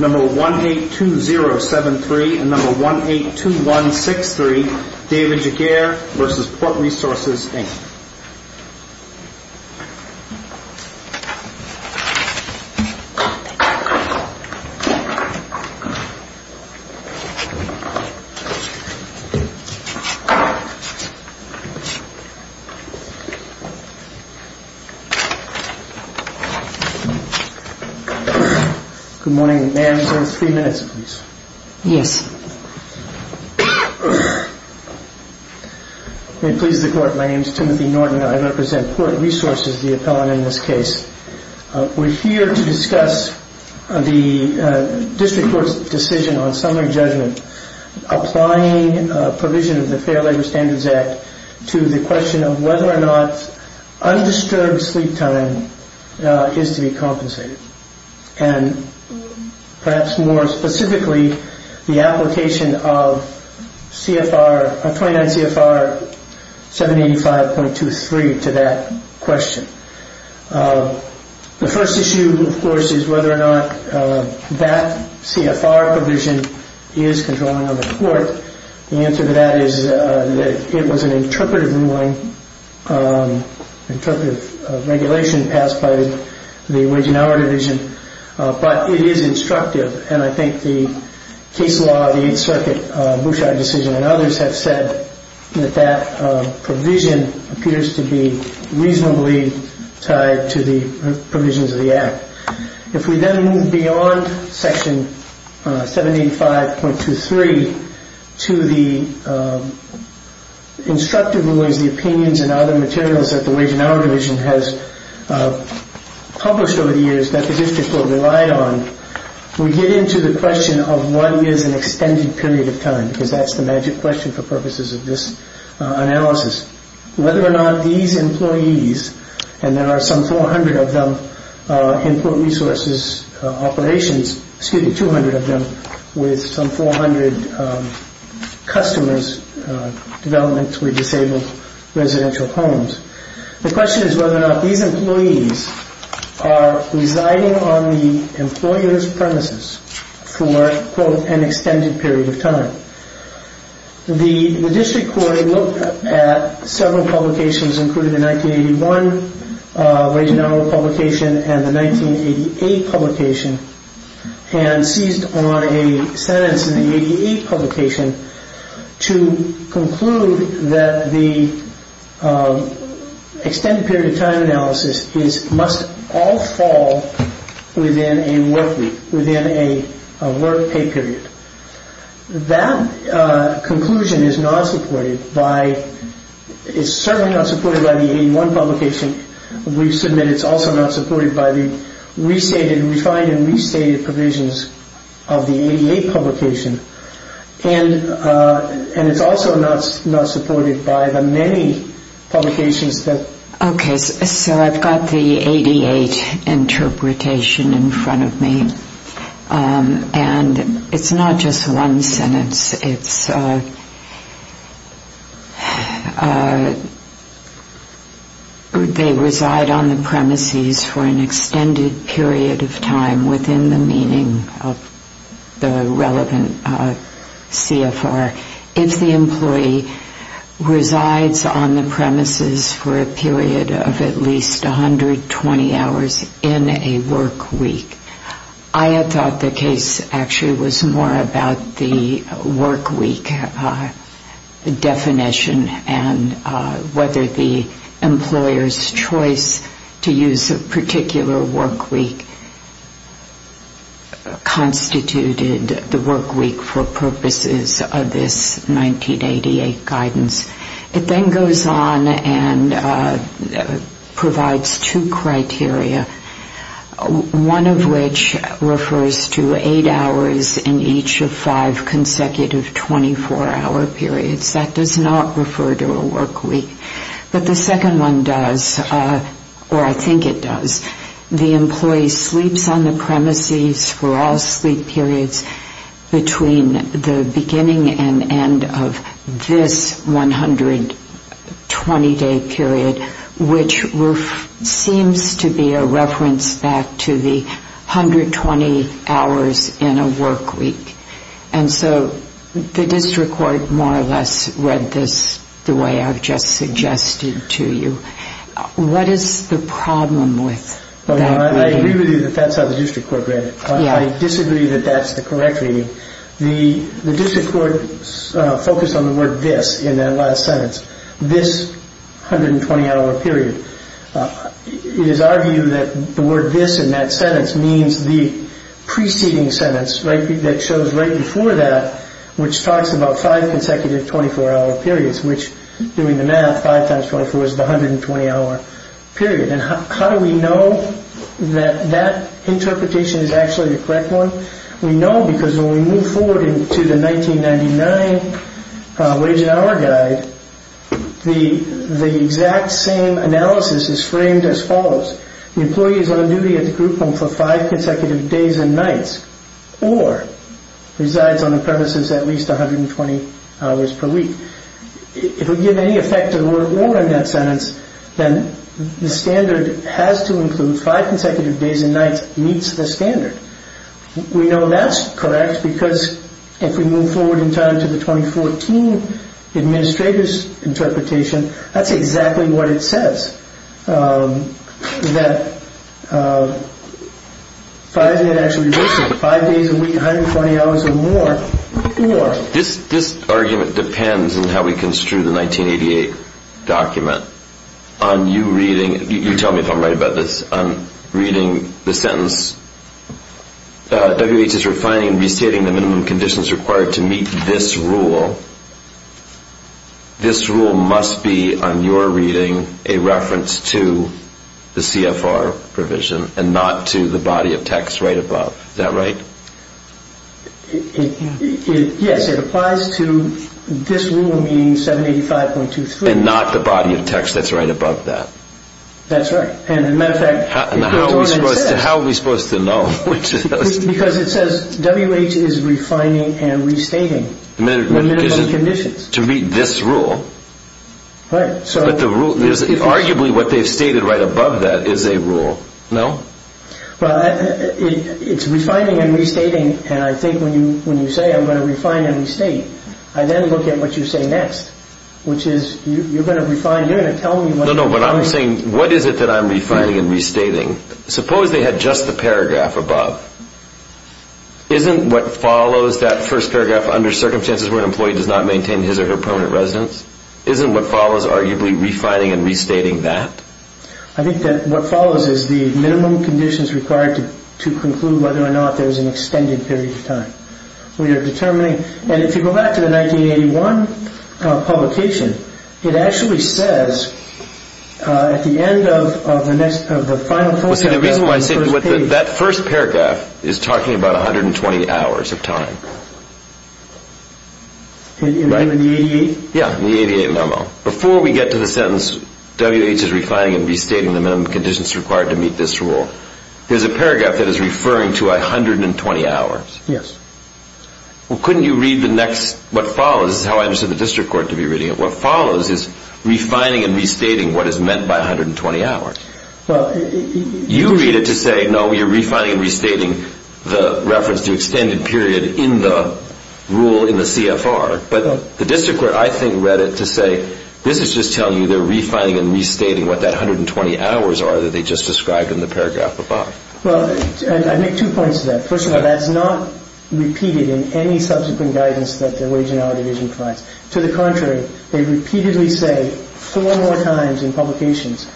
182073 and 182163 David Giguere v. Port Resources Inc. Good morning. May I have three minutes, please? Yes. May it please the Court, my name is Timothy Norton. I represent Port Resources, the appellant in this case. We're here to discuss the district court's decision on summary judgment, applying a provision of the Fair Labor Standards Act to the question of whether or not undisturbed sleep time is to be compensated, and perhaps more specifically, the application of 29 CFR 785.23 to that question. The first issue, of course, is whether or not that CFR provision is controlling on the Court. The answer to that is that it was an interpretive ruling, interpretive regulation passed by the Wage and Hour Division, but it is instructive, and I think the case law of the Eighth Circuit, Bouchard decision, and others have said that that provision appears to be reasonably tied to the provisions of the Act. If we then move beyond section 785.23 to the instructive rulings, the opinions, and other materials that the Wage and Hour Division has published over the years that the district court relied on, we get into the question of what is an extended period of time, because that's the magic question for purposes of this analysis. Whether or not these employees, and there are some 400 of them in Port Resources operations, excuse me, 200 of them, with some 400 customers, developments with disabled residential homes. The question is whether or not these employees are residing on the employer's premises for, quote, an extended period of time. The district court looked at several publications, including the 1981 Wage and Hour publication and the 1988 publication, and seized on a sentence in the 1988 publication to conclude that the extended period of time analysis must all fall within a work week, within a work pay period. That conclusion is not supported by, it's certainly not supported by the 1981 publication. We submit it's also not supported by the restated, refined and restated provisions of the 88 publication. And it's also not supported by the many publications that... They reside on the premises for an extended period of time within the meaning of the relevant CFR. If the employee resides on the premises for a period of at least 120 hours in a work week, I had thought the case actually was more about the work week definition and whether the employer's choice to use a particular work week constituted the work week for purposes of this 1988 guidance. It then goes on and provides two hours in each of five consecutive 24-hour periods. That does not refer to a work week. But the second one does, or I think it does. The employee sleeps on the premises for all sleep periods between the beginning and end of this 120-day period, which seems to be a reference back to the 120 hours in a work week. And so the district court more or less read this the way I've just suggested to you. What is the problem with that reading? I disagree that that's the correct reading. The district court focused on the word this in that last sentence, this 120-hour period. It is our view that the word this in that sentence means the preceding sentence that shows right before that, which talks about five consecutive 24-hour periods, which doing the math, five times 24 is the correct one. We know because when we move forward into the 1999 Wage and Hour Guide, the exact same analysis is framed as follows. The employee is on duty at the group home for five consecutive days and nights or resides on the premises at least 120 hours per week. If we give any effect to the word or in that sentence, then the standard has to We know that's correct because if we move forward in time to the 2014 administrator's interpretation, that's exactly what it says. That five days a week, 120 hours or more. This argument depends on how we construe the 1988 document. On you reading, you tell me if I'm right about this, on you reading, you tell me if I'm right about this, WHS is restating the minimum conditions required to meet this rule. This rule must be on your reading a reference to the CFR provision and not to the body of text right above. Is that right? Yes, it applies to this rule meaning 785.23. And not the body of text that's right above that? That's right. And how are we supposed to know? Because it says WH is refining and restating the minimum conditions. To meet this rule? But arguably what they've stated right above that is a rule, no? Well, it's refining and restating and I think when you say I'm going to refine and restate, I then look at what you say next, which is you're going to refine, you're going to tell me. No, no, what I'm saying, what is it that I'm refining and restating? Suppose they had just the paragraph above. Isn't what follows that first paragraph under circumstances where an employee does not maintain his or her permanent residence? Isn't what follows arguably refining and restating that? I think that what follows is the minimum conditions required to conclude whether or not there is an extended period of time. So you're determining, and if you go back to the 1981 publication, it actually says at the end of the next, of the final... Well, see the reason why I say, that first paragraph is talking about 120 hours of time. In the 88? Yeah, in the 88 memo. Before we get to the sentence WH is refining and restating the minimum conditions required to meet this rule, there's a paragraph that is referring to 120 hours. Yes. Well, couldn't you read the next, what follows, this is how I understood the district court to be reading it, what follows is refining and restating what is meant by 120 hours. You read it to say, no, you're refining and restating the reference to extended period in the rule in the CFR, but the district court, I think, read it to say, this is just telling you they're refining and restating what that 120 hours are that they just described in the paragraph above. Well, I make two points to that. First of all, that's not repeated in any subsequent guidance that the Wage and Hour Division provides. To the contrary, they repeatedly say four more times in publications,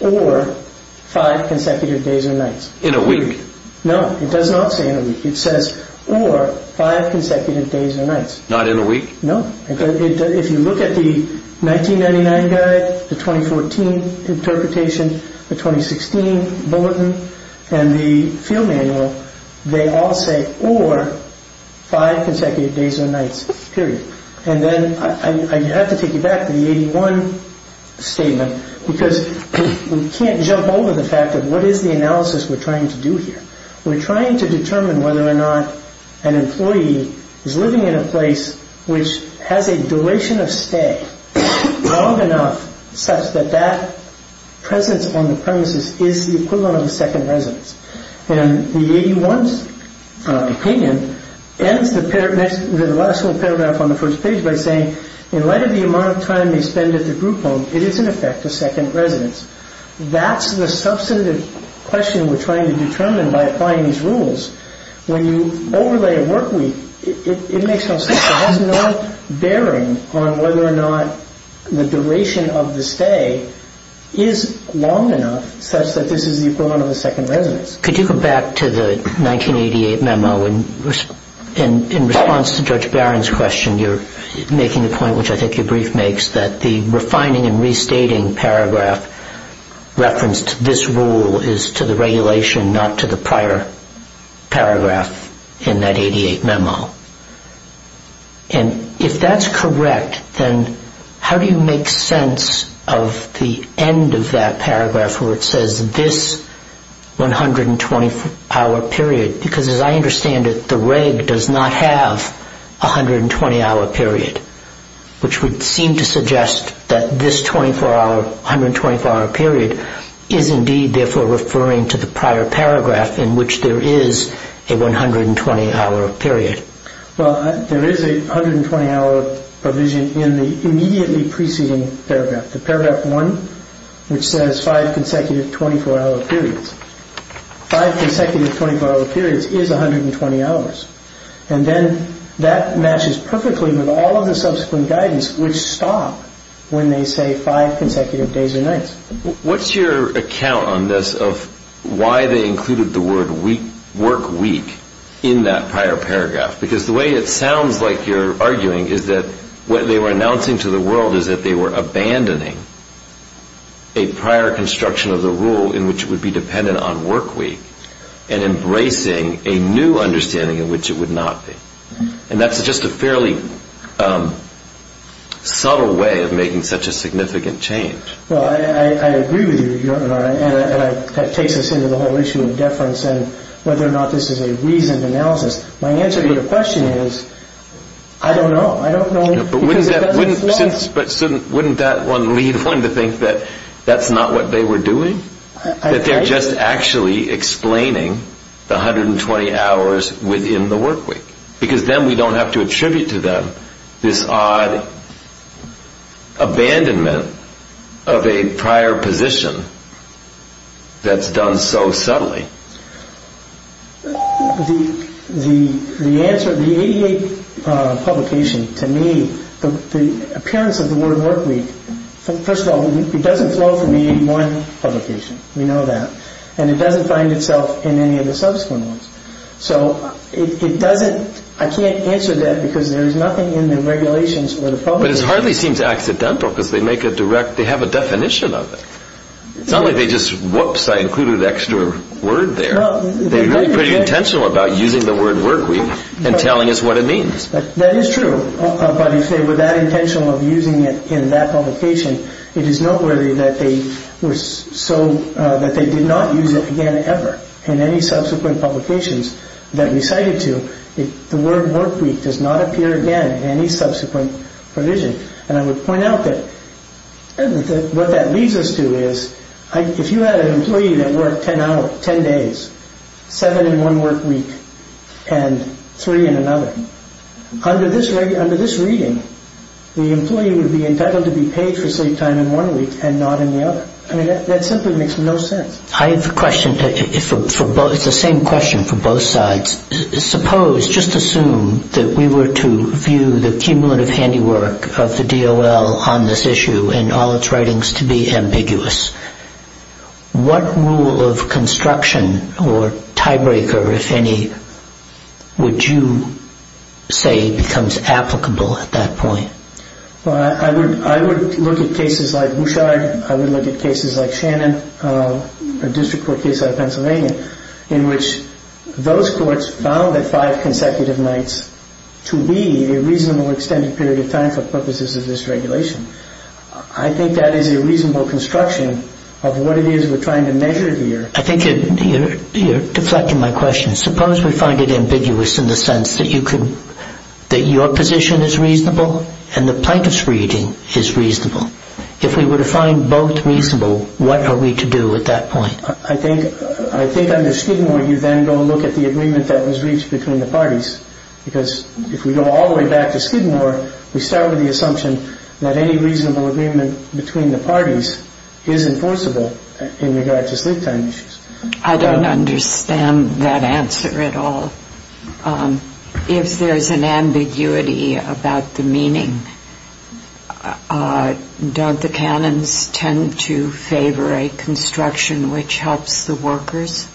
or five consecutive days or nights. In a week. No, it does not say in a week. It says, or five consecutive days or nights. Not in a week? No. If you look at the 1999 guide, the 2014 interpretation, the 2016 bulletin, and the field manual, they all say, or five consecutive days or nights, period. And then I have to take you back to the 81 statement, because we can't jump over the fact of what is the analysis we're trying to do here. We're trying to determine whether or not an employee is living in a place which has a duration of stay long enough such that that presence on the premises is the equivalent of a second residence. And the 81's opinion ends the last paragraph on the first page by saying, in light of the amount of time they spend at the group home, it is, in effect, a second residence. That's the substantive question we're trying to determine by applying these rules. When you overlay a work week, it makes no sense. It has no bearing on whether or not the duration of the stay is long enough such that this is the equivalent of a second residence. Could you go back to the 1988 memo? In response to Judge Barron's question, you're making a point, which I think your brief makes, that the refining and restating paragraph referenced this rule is to the regulation, not to the prior paragraph in that 88 memo. And if that's correct, then how do you make sense of the end of that paragraph where it says this 120-hour period? Because as I understand it, the reg does not have a 120-hour period, which would seem to suggest that this 124-hour period is, indeed, therefore referring to the prior paragraph in which there is a 120-hour period. Well, there is a 120-hour provision in the immediately preceding paragraph, the paragraph 1, which says five consecutive 24-hour periods. Five consecutive 24-hour periods is 120 hours. And then that matches perfectly with all of the subsequent guidance, which stop when they say five consecutive days or nights. What's your account on this of why they included the word work week in that prior paragraph? Because the way it sounds like you're arguing is that what they were announcing to the world is that they were abandoning a prior construction of the rule in which it would be dependent on work week and embracing a new understanding in which it would not be. And that's just a fairly subtle way of making such a significant change. Well, I agree with you, Your Honor, and that takes us into the whole issue of deference and whether or not this is a reasoned analysis. My answer to your question is I don't know. But wouldn't that one lead one to think that that's not what they were doing? That they're just actually explaining the 120 hours within the work week because then we don't have to attribute to them this odd abandonment of a prior position that's done so subtly. The answer, the 88 publication, to me, the appearance of the word work week, first of all, it doesn't flow from the 81 publication. We know that. And it doesn't find itself in any of the subsequent ones. So it doesn't, I can't answer that because there is nothing in the regulations for the publication. But it hardly seems accidental because they make a direct, they have a definition of it. It's not like they just, whoops, I included an extra word there. They're really pretty intentional about using the word work week and telling us what it means. That is true. But if they were that intentional of using it in that publication, it is noteworthy that they were so, that they did not use it again ever in any subsequent publications that we cited to. The word work week does not appear again in any subsequent provision. And I would point out that what that leads us to is if you had an employee that worked 10 days, seven in one work week, and three in another, under this reading, the employee would be entitled to be paid for sleep time in one week and not in the other. I mean, that simply makes no sense. I have a question for both, it's the same question for both sides. Suppose, just assume that we were to view the cumulative handiwork of the DOL on this issue and all its writings to be ambiguous. What rule of construction or tiebreaker, if any, would you say becomes applicable at that point? Well, I would look at cases like Bouchard, I would look at cases like Shannon, a district court case out of Pennsylvania, in which those courts found that five consecutive nights to be a reasonable extended period of time for purposes of this regulation. I think that is a reasonable construction of what it is we're trying to measure here. I think you're deflecting my question. Suppose we find it ambiguous in the sense that your position is reasonable and the plaintiff's reading is reasonable. If we were to find both reasonable, what are we to do at that point? I think under Skidmore you then go look at the agreement that was reached between the parties. Because if we go all the way back to Skidmore, we start with the assumption that any reasonable agreement between the parties is enforceable in regard to sleep time issues. I don't understand that answer at all. If there is an ambiguity about the meaning, don't the canons tend to favor a construction which helps the workers?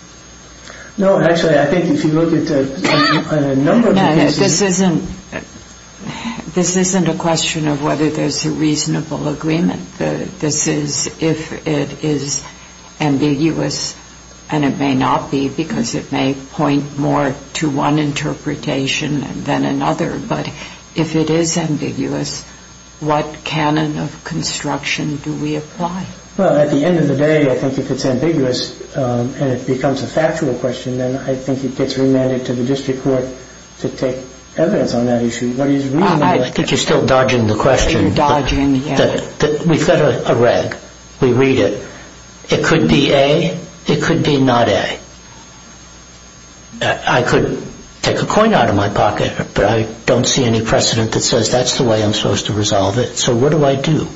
No, actually, I think if you look at a number of cases... No, this isn't a question of whether there's a reasonable agreement. This is if it is ambiguous, and it may not be because it may point more to one interpretation than another. But if it is ambiguous, what canon of construction do we apply? Well, at the end of the day, I think if it's ambiguous and it becomes a factual question, then I think it gets remanded to the district court to take evidence on that issue. I think you're still dodging the question. You're dodging, yes. We've got a reg. We read it. It could be A. It could be not A. I could take a coin out of my pocket, but I don't see any precedent that says that's the way I'm supposed to resolve it. So what do I do?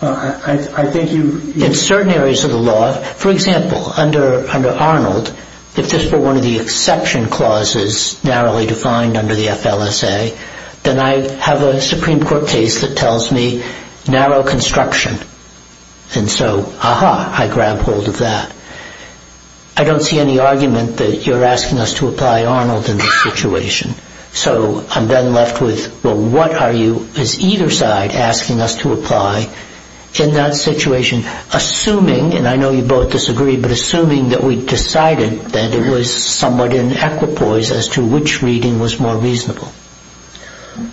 I think you... In certain areas of the law, for example, under Arnold, if this were one of the exception clauses narrowly defined under the FLSA, then I have a Supreme Court case that tells me narrow construction. And so, aha, I grab hold of that. I don't see any argument that you're asking us to apply Arnold in this situation. So I'm then left with, well, what are you, as either side, asking us to apply in that situation, assuming, and I know you both disagree, but assuming that we decided that it was somewhat in equipoise as to which reading was more reasonable.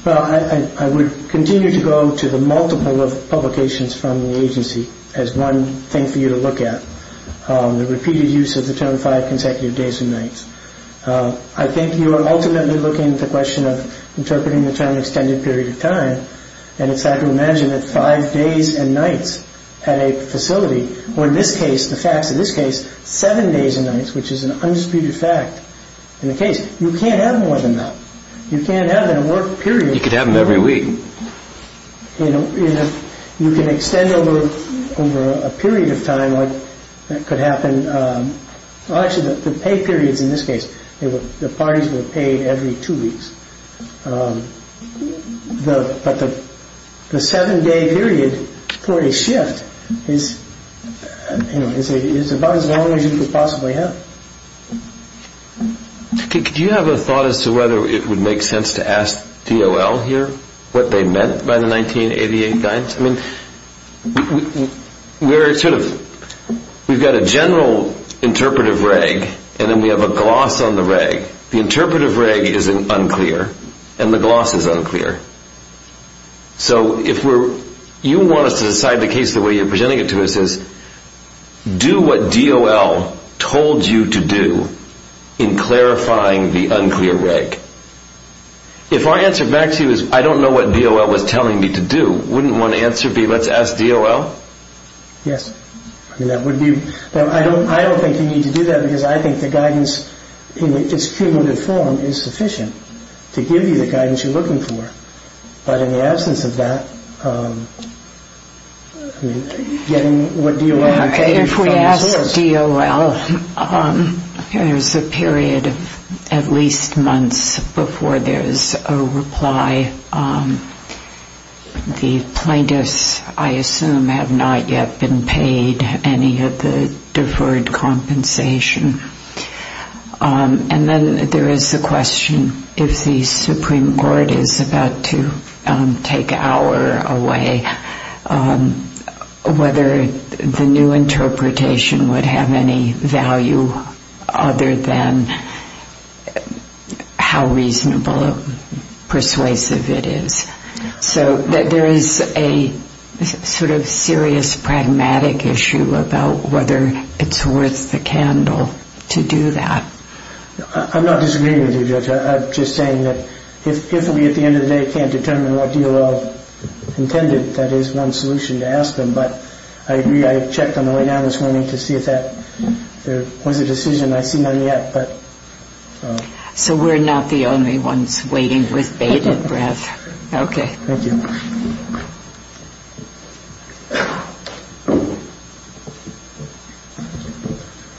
Well, I would continue to go to the multiple of publications from the agency as one thing for you to look at, the repeated use of the term five consecutive days and nights. I think you are ultimately looking at the question of interpreting the term extended period of time, and it's hard to imagine that five days and nights at a facility, or in this case, the facts of this case, seven days and nights, which is an undisputed fact in the case. You can't have more than that. You can't have in a work period. You could have them every week. You know, you can extend over a period of time, like that could happen, well, actually, the pay periods in this case, the parties were paid every two weeks. But the seven-day period for a shift is, you know, is about as long as you could possibly have. Could you have a thought as to whether it would make sense to ask DOL here what they meant by the 1988 guidance? I mean, we're sort of, we've got a general interpretive reg, and then we have a gloss on the reg. The interpretive reg is unclear, and the gloss is unclear. So if you want us to decide the case the way you're presenting it to us, do what DOL told you to do in clarifying the unclear reg. If our answer back to you is, I don't know what DOL was telling me to do, wouldn't one answer be, let's ask DOL? Yes. I mean, that would be, I don't think you need to do that, because I think the guidance in its cumulative form is sufficient to give you the guidance you're looking for. But in the absence of that, getting what DOL had to do from the source. If we ask DOL, there's a period of at least months before there's a reply. The plaintiffs, I assume, have not yet been paid any of the deferred compensation. And then there is the question, if the Supreme Court is about to take our away, whether the new interpretation would have any value other than how reasonable or persuasive it is. So there is a sort of serious pragmatic issue about whether it's worth the candle to do that. I'm not disagreeing with you, Judge. I'm just saying that if we at the end of the day can't determine what DOL intended, that is one solution to ask them. But I agree, I checked on the way down this morning to see if there was a decision. I see none yet. So we're not the only ones waiting with bated breath. Okay. Thank you.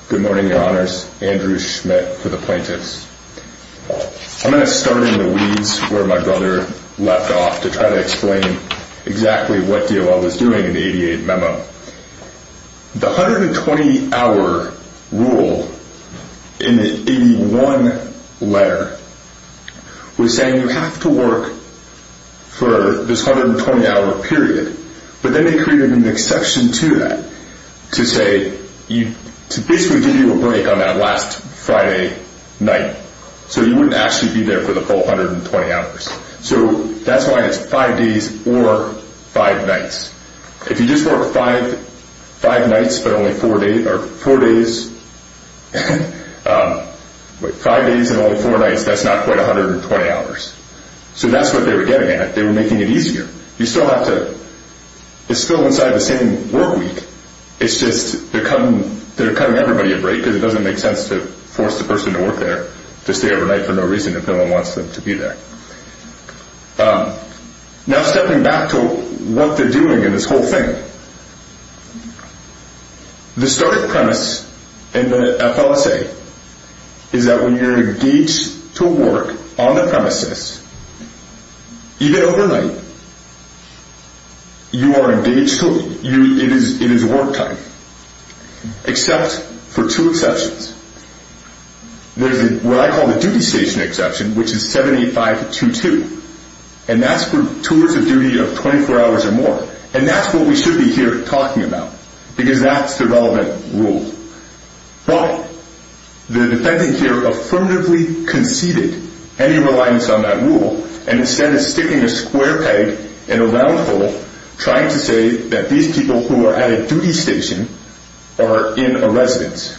Good morning, Your Honors. Andrew Schmidt for the plaintiffs. I'm going to start in the weeds where my brother left off to try to explain exactly what DOL was doing in the 88 Memo. The 120-hour rule in the 81 letter was saying you have to work for this 120-hour period. But then they created an exception to that to basically give you a break on that last Friday night. So you wouldn't actually be there for the full 120 hours. So that's why it's five days or five nights. If you just work five days and only four nights, that's not quite 120 hours. So that's what they were getting at. They were making it easier. It's still inside the same work week. It's just they're cutting everybody a break because it doesn't make sense to force the person to work there to stay overnight for no reason if no one wants them to be there. Now stepping back to what they're doing in this whole thing. The starting premise in the FLSA is that when you're engaged to work on the premises, even overnight, you are engaged to work. It is work time, except for two exceptions. There's what I call the duty station exception, which is 78522. And that's for tours of duty of 24 hours or more. And that's what we should be here talking about because that's the relevant rule. Well, the defendant here affirmatively conceded any reliance on that rule and instead is sticking a square peg in a round hole trying to say that these people who are at a duty station are in a residence.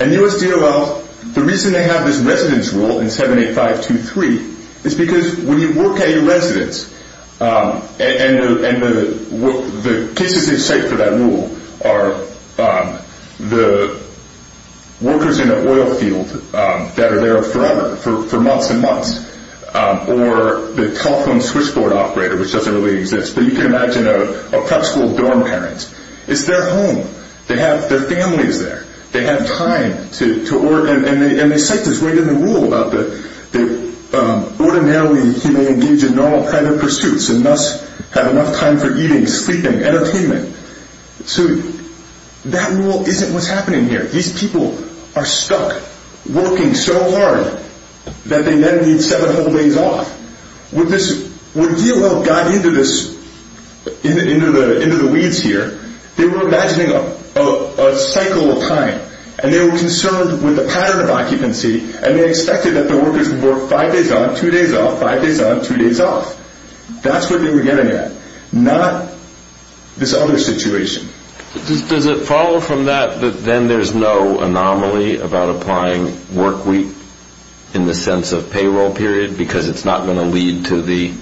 And the U.S. DOL, the reason they have this residence rule in 78523 is because when you work at a residence and the cases they cite for that rule are the workers in an oil field that are there forever, for months and months, or the telephone switchboard operator, which doesn't really exist, but you can imagine a prep school dorm parent. It's their home. They have their families there. They have time to work. And they cite this right in the rule about that ordinarily he may engage in normal private pursuits and thus have enough time for eating, sleeping, entertainment. So that rule isn't what's happening here. These people are stuck working so hard that they then need seven whole days off. When DOL got into the weeds here, they were imagining a cycle of time, and they were concerned with the pattern of occupancy, and they expected that the workers would work five days on, two days off, five days on, two days off. That's what they were getting at, not this other situation. Does it follow from that that then there's no anomaly about applying work week in the sense of payroll period because it's not going to lead to the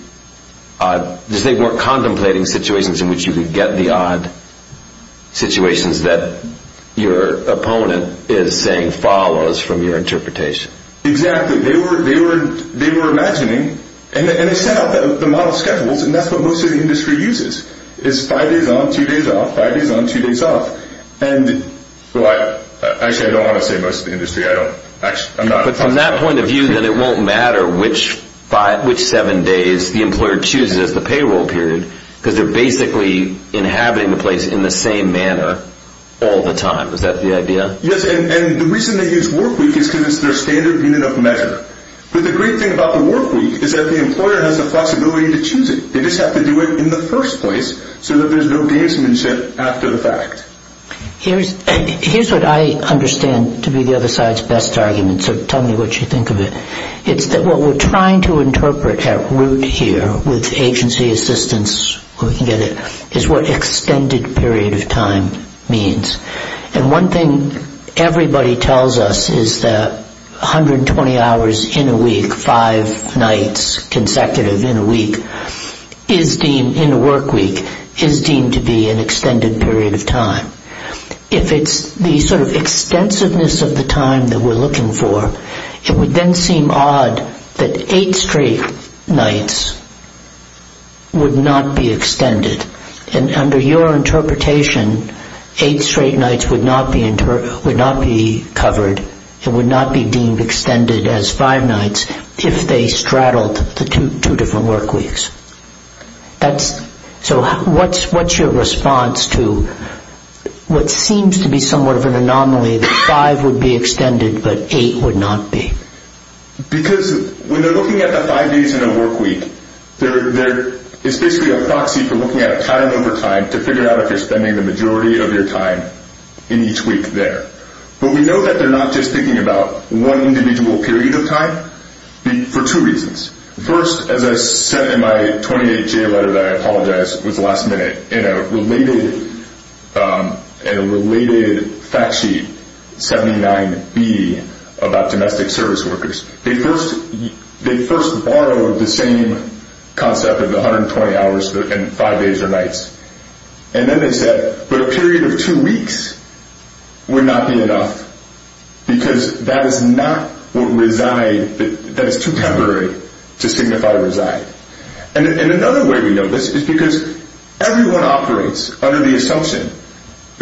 odd? They weren't contemplating situations in which you could get the odd situations that your opponent is saying follows from your interpretation. Exactly. They were imagining, and they set out the model schedules, and that's what most of the industry uses is five days on, two days off, five days on, two days off. Actually, I don't want to say most of the industry. But from that point of view, then it won't matter which seven days the employer chooses as the payroll period because they're basically inhabiting the place in the same manner all the time. Is that the idea? Yes, and the reason they use work week is because it's their standard unit of measure. But the great thing about the work week is that the employer has the flexibility to choose it. They just have to do it in the first place so that there's no gamesmanship after the fact. Here's what I understand to be the other side's best argument, so tell me what you think of it. It's that what we're trying to interpret at root here with agency assistance, if we can get it, is what extended period of time means. And one thing everybody tells us is that 120 hours in a week, five nights consecutive in a week, in a work week, is deemed to be an extended period of time. If it's the sort of extensiveness of the time that we're looking for, it would then seem odd that eight straight nights would not be extended. And under your interpretation, eight straight nights would not be covered, it would not be deemed extended as five nights if they straddled the two different work weeks. So what's your response to what seems to be somewhat of an anomaly that five would be extended but eight would not be? Because when they're looking at the five days in a work week, it's basically a proxy for looking at time over time to figure out if you're spending the majority of your time in each week there. But we know that they're not just thinking about one individual period of time for two reasons. First, as I said in my 28-J letter that I apologize was last minute, in a related fact sheet, 79-B, about domestic service workers, they first borrowed the same concept of 120 hours in five days or nights. And then they said, but a period of two weeks would not be enough, because that is not what reside, that is too temporary to signify reside. And another way we know this is because everyone operates under the assumption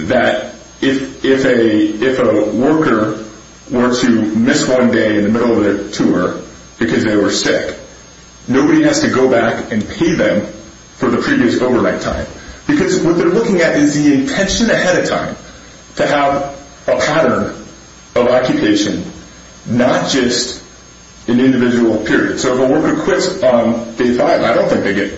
that if a worker were to miss one day in the middle of their tour because they were sick, nobody has to go back and pay them for the previous overnight time. Because what they're looking at is the intention ahead of time to have a pattern of occupation, not just an individual period. So if a worker quits on day five, I don't think they get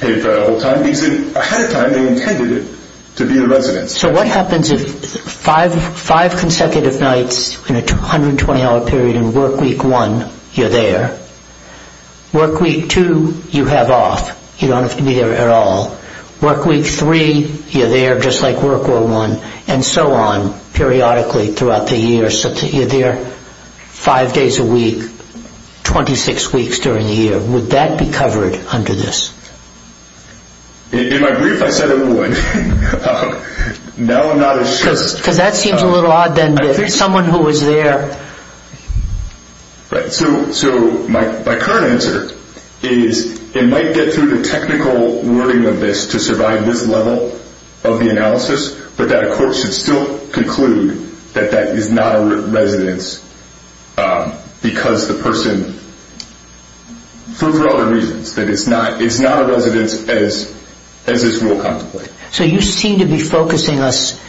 paid for that whole time, because ahead of time they intended it to be a residence. So what happens if five consecutive nights in a 120-hour period in work week one, you're there? Work week two, you have off. You don't have to be there at all. Work week three, you're there, just like work one, and so on, periodically throughout the year. So you're there five days a week, 26 weeks during the year. Would that be covered under this? In my brief, I said it would. Now I'm not as sure. Because that seems a little odd then, someone who was there. Right. So my current answer is it might get through the technical wording of this to survive this level of the analysis, but that a court should still conclude that that is not a residence because the person, for other reasons, that it's not a residence as this rule contemplates. So you seem to be focusing us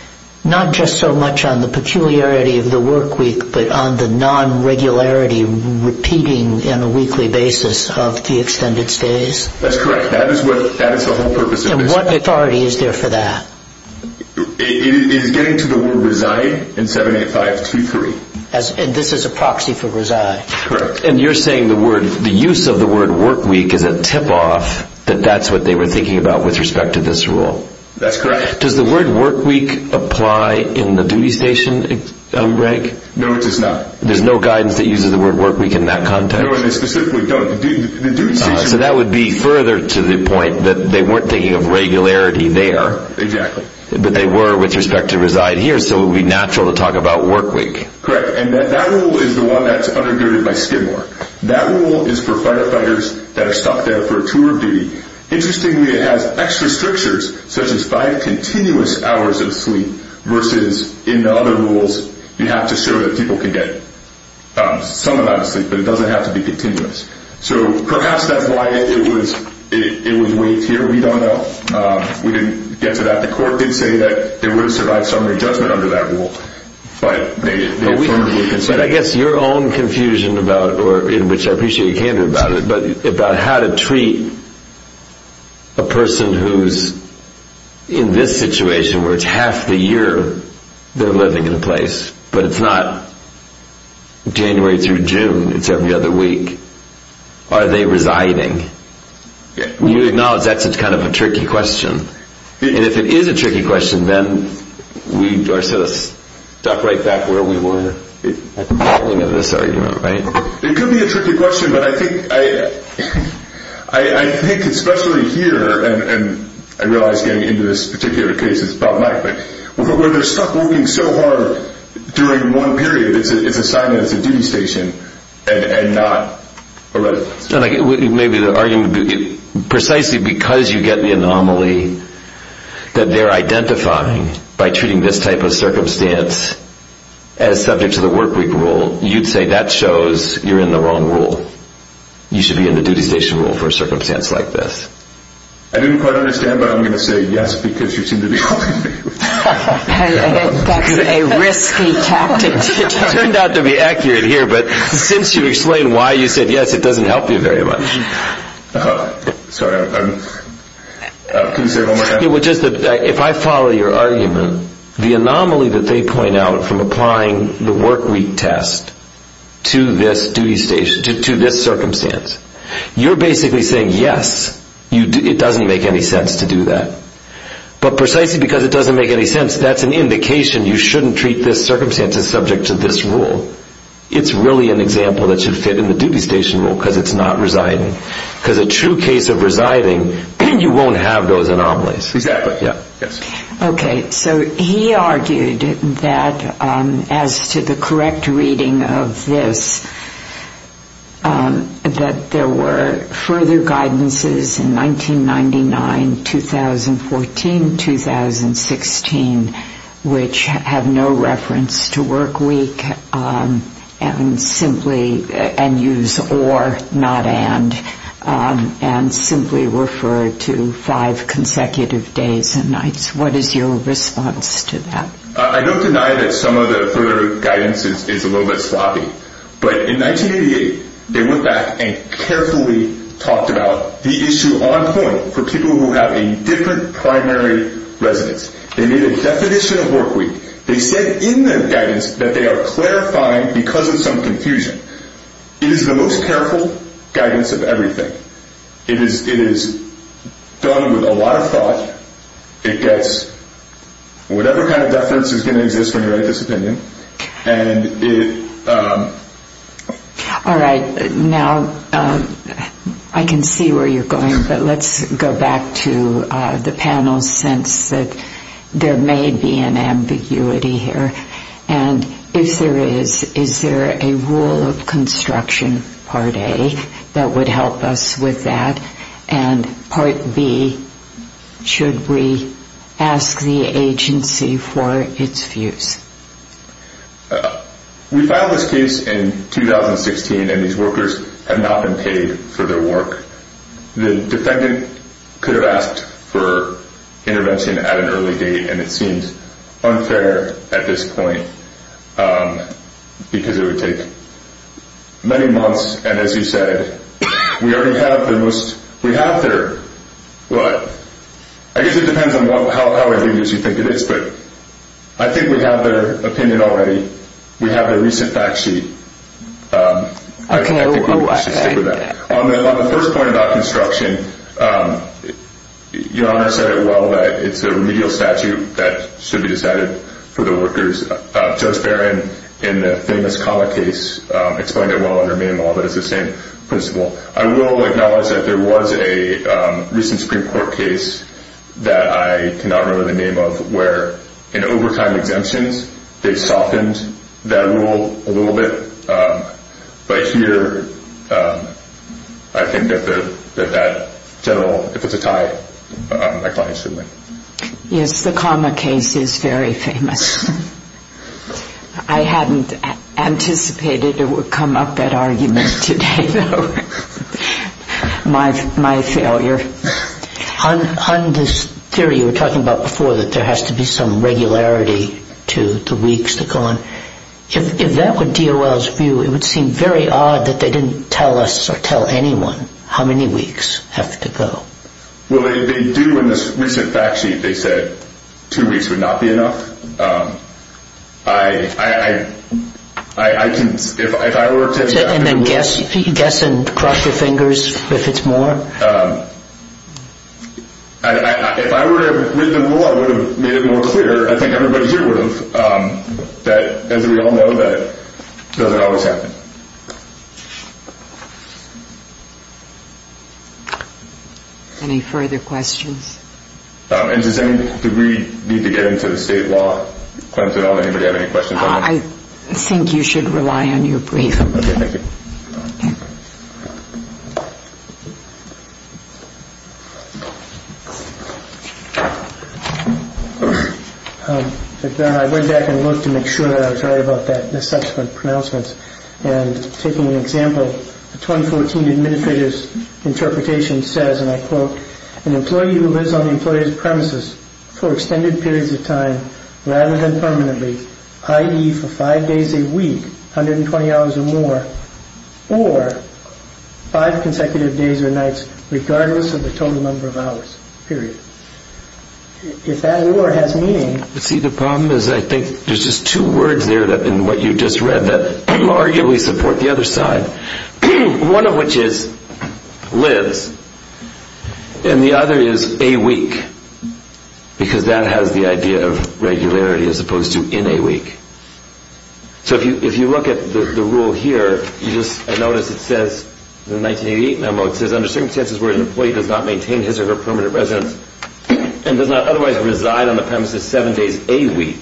not just so much on the peculiarity of the work week, but on the non-regularity, repeating on a weekly basis of the extended stays? That's correct. That is the whole purpose of this. And what authority is there for that? It is getting to the word reside in 78523. And this is a proxy for reside. Correct. And you're saying the use of the word work week is a tip-off that that's what they were thinking about with respect to this rule? That's correct. Does the word work week apply in the duty station, Greg? No, it does not. There's no guidance that uses the word work week in that context? No, and they specifically don't. So that would be further to the point that they weren't thinking of regularity there. Exactly. But they were with respect to reside here, so it would be natural to talk about work week. Correct. And that rule is the one that's undergirded by Skidmore. That rule is for firefighters that are stuck there for a tour of duty. Interestingly, it has extra strictures, such as five continuous hours of sleep, versus in the other rules you have to show that people can get some amount of sleep, but it doesn't have to be continuous. So perhaps that's why it was waived here. We don't know. We didn't get to that. The court did say that there would have survived some adjustment under that rule. But I guess your own confusion, in which I appreciate you came to about it, about how to treat a person who's in this situation where it's half the year they're living in a place, but it's not January through June, it's every other week. Are they residing? You acknowledge that's kind of a tricky question. And if it is a tricky question, then we are sort of stuck right back where we were at the beginning of this argument, right? It could be a tricky question, but I think especially here, and I realize getting into this particular case, it's about Mike, but where they're stuck working so hard during one period, it's a sign that it's a duty station and not a residence. Maybe the argument would be precisely because you get the anomaly that they're identifying by treating this type of circumstance as subject to the workweek rule, you'd say that shows you're in the wrong rule. You should be in the duty station rule for a circumstance like this. I didn't quite understand, but I'm going to say yes because you seem to be helping me. That's a risky tactic. It turned out to be accurate here, but since you explained why you said yes, it doesn't help you very much. Sorry, can you say it one more time? If I follow your argument, the anomaly that they point out from applying the workweek test to this circumstance, you're basically saying yes, it doesn't make any sense to do that. But precisely because it doesn't make any sense, that's an indication you shouldn't treat this circumstance as subject to this rule. It's really an example that should fit in the duty station rule because it's not residing. Because a true case of residing, you won't have those anomalies. Exactly. Okay, so he argued that as to the correct reading of this, that there were further guidances in 1999, 2014, 2016, which have no reference to workweek and use or, not and, and simply refer to five consecutive days and nights. What is your response to that? I don't deny that some of the further guidance is a little bit sloppy. But in 1988, they went back and carefully talked about the issue on point for people who have a different primary residence. They made a definition of workweek. They said in their guidance that they are clarifying because of some confusion. It is the most careful guidance of everything. It is done with a lot of thought. It gets whatever kind of deference is going to exist when you write this opinion. All right, now I can see where you're going, but let's go back to the panel's sense that there may be an ambiguity here. And if there is, is there a rule of construction, part A, that would help us with that? And part B, should we ask the agency for its views? We filed this case in 2016, and these workers have not been paid for their work. The defendant could have asked for intervention at an early date, and it seems unfair at this point because it would take many months. And as you said, we already have the most—we have their— I guess it depends on how aggrieved you think it is, but I think we have their opinion already. We have their recent fact sheet. I think we should stick with that. On the first point about construction, Your Honor said it well, that it's a remedial statute that should be decided for the workers. Judge Barron, in the famous Kama case, explained it well in her memo that it's the same principle. I will acknowledge that there was a recent Supreme Court case that I cannot remember the name of, where in overtime exemptions, they softened that rule a little bit. But here, I think that that general—if it's a tie, my client should win. Yes, the Kama case is very famous. I hadn't anticipated it would come up, that argument, today. My failure. On this theory you were talking about before, that there has to be some regularity to the weeks that go on, if that were DOL's view, it would seem very odd that they didn't tell us or tell anyone how many weeks have to go. Well, they do in this recent fact sheet. They said two weeks would not be enough. I can—if I were to— And then guess and cross your fingers if it's more? If I were to have written the rule, I would have made it more clear. I think everybody here would have. As we all know, that doesn't always happen. Any further questions? And does any degree need to get into the state law? Anybody have any questions on that? I think you should rely on your brief. Okay, thank you. I went back and looked to make sure that I was right about the subsequent pronouncements. And taking an example, the 2014 Administrative Interpretation says, and I quote, an employee who lives on the employee's premises for extended periods of time rather than permanently, i.e., for five days a week, 120 hours or more, or five consecutive days or nights, regardless of the total number of hours, period. If that word has meaning— See, the problem is I think there's just two words there in what you just read that arguably support the other side, one of which is lives, and the other is a week, because that has the idea of regularity as opposed to in a week. So if you look at the rule here, you just notice it says in the 1988 memo, it says under circumstances where an employee does not maintain his or her permanent residence and does not otherwise reside on the premises seven days a week.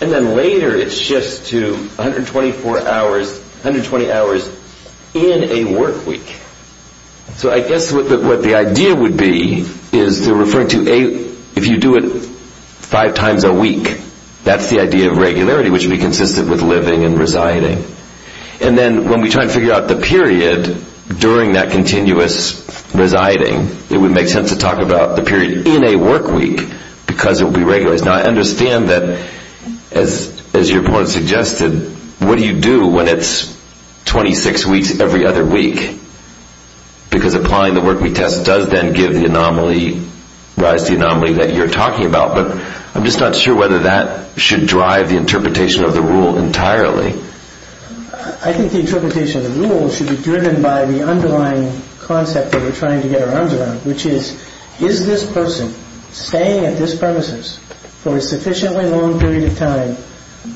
And then later it shifts to 124 hours, 120 hours in a work week. So I guess what the idea would be is to refer to a—if you do it five times a week, that's the idea of regularity, which would be consistent with living and residing. And then when we try to figure out the period during that continuous residing, it would make sense to talk about the period in a work week, because it would be regular. Now, I understand that, as your opponent suggested, what do you do when it's 26 weeks every other week? Because applying the work week test does then give the anomaly, rise to the anomaly that you're talking about. But I'm just not sure whether that should drive the interpretation of the rule entirely. I think the interpretation of the rule should be driven by the underlying concept that we're trying to get our arms around, which is, is this person staying at this premises for a sufficiently long period of time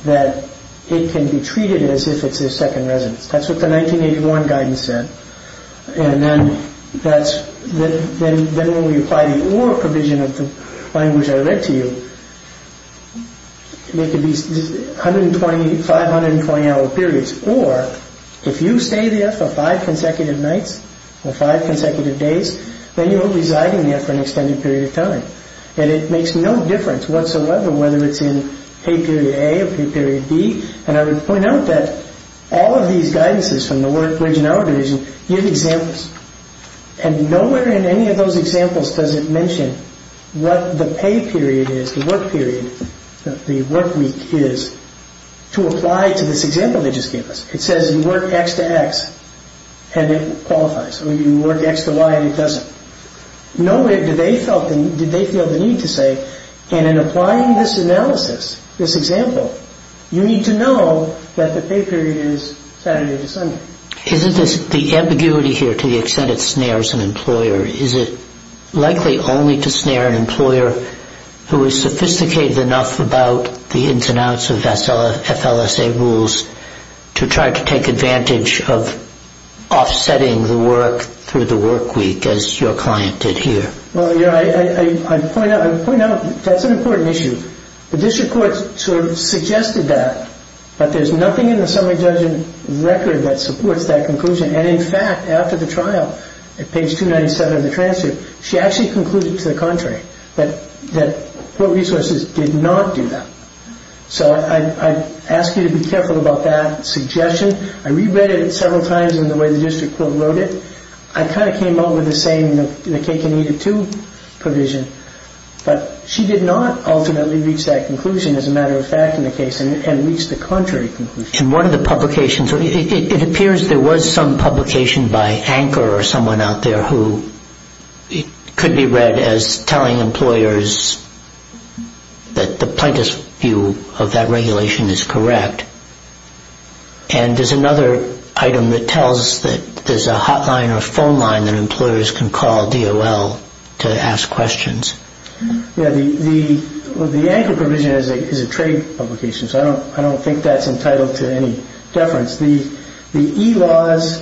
that it can be treated as if it's their second residence? That's what the 1981 guidance said. And then that's—then when we apply the OR provision of the language I read to you, it could be 120, 520-hour periods. Or if you stay there for five consecutive nights or five consecutive days, then you're residing there for an extended period of time. And it makes no difference whatsoever whether it's in pay period A or pay period B. And I would point out that all of these guidances from the work week and hour provision give examples. And nowhere in any of those examples does it mention what the pay period is, the work period, the work week is, to apply to this example they just gave us. It says you work X to X and it qualifies, or you work X to Y and it doesn't. Nowhere did they feel the need to say, and in applying this analysis, this example, you need to know that the pay period is Saturday to Sunday. Isn't this the ambiguity here to the extent it snares an employer? Is it likely only to snare an employer who is sophisticated enough about the ins and outs of FLSA rules to try to take advantage of offsetting the work through the work week as your client did here? Well, you know, I point out that's an important issue. The district court sort of suggested that, but there's nothing in the summary judgment record that supports that conclusion. And in fact, after the trial, at page 297 of the transcript, she actually concluded to the contrary that court resources did not do that. So I ask you to be careful about that suggestion. I reread it several times in the way the district court wrote it. I kind of came up with the same in the K-2 provision, but she did not ultimately reach that conclusion as a matter of fact in the case and reached the contrary conclusion. In one of the publications, it appears there was some publication by Anchor or someone out there who could be read as telling employers that the plaintiff's view of that regulation is correct. And there's another item that tells that there's a hotline or phone line that employers can call DOL to ask questions. The Anchor provision is a trade publication, so I don't think that's entitled to any deference. The e-laws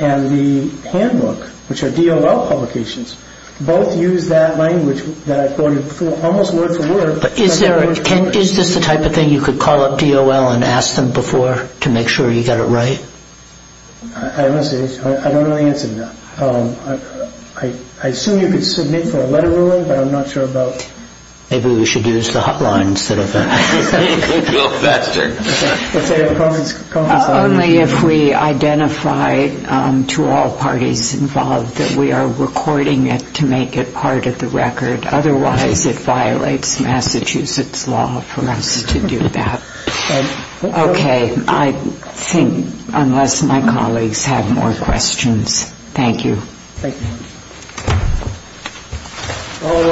and the handbook, which are DOL publications, both use that language that I quoted almost word for word. But is this the type of thing you could call up DOL and ask them before to make sure you got it right? I don't know the answer to that. I assume you could submit for a letter ruling, but I'm not sure about it. Maybe we should use the hotline instead of that. Only if we identify to all parties involved that we are recording it to make it part of the record. Otherwise, it violates Massachusetts law for us to do that. Okay. I think unless my colleagues have more questions, thank you. Thank you.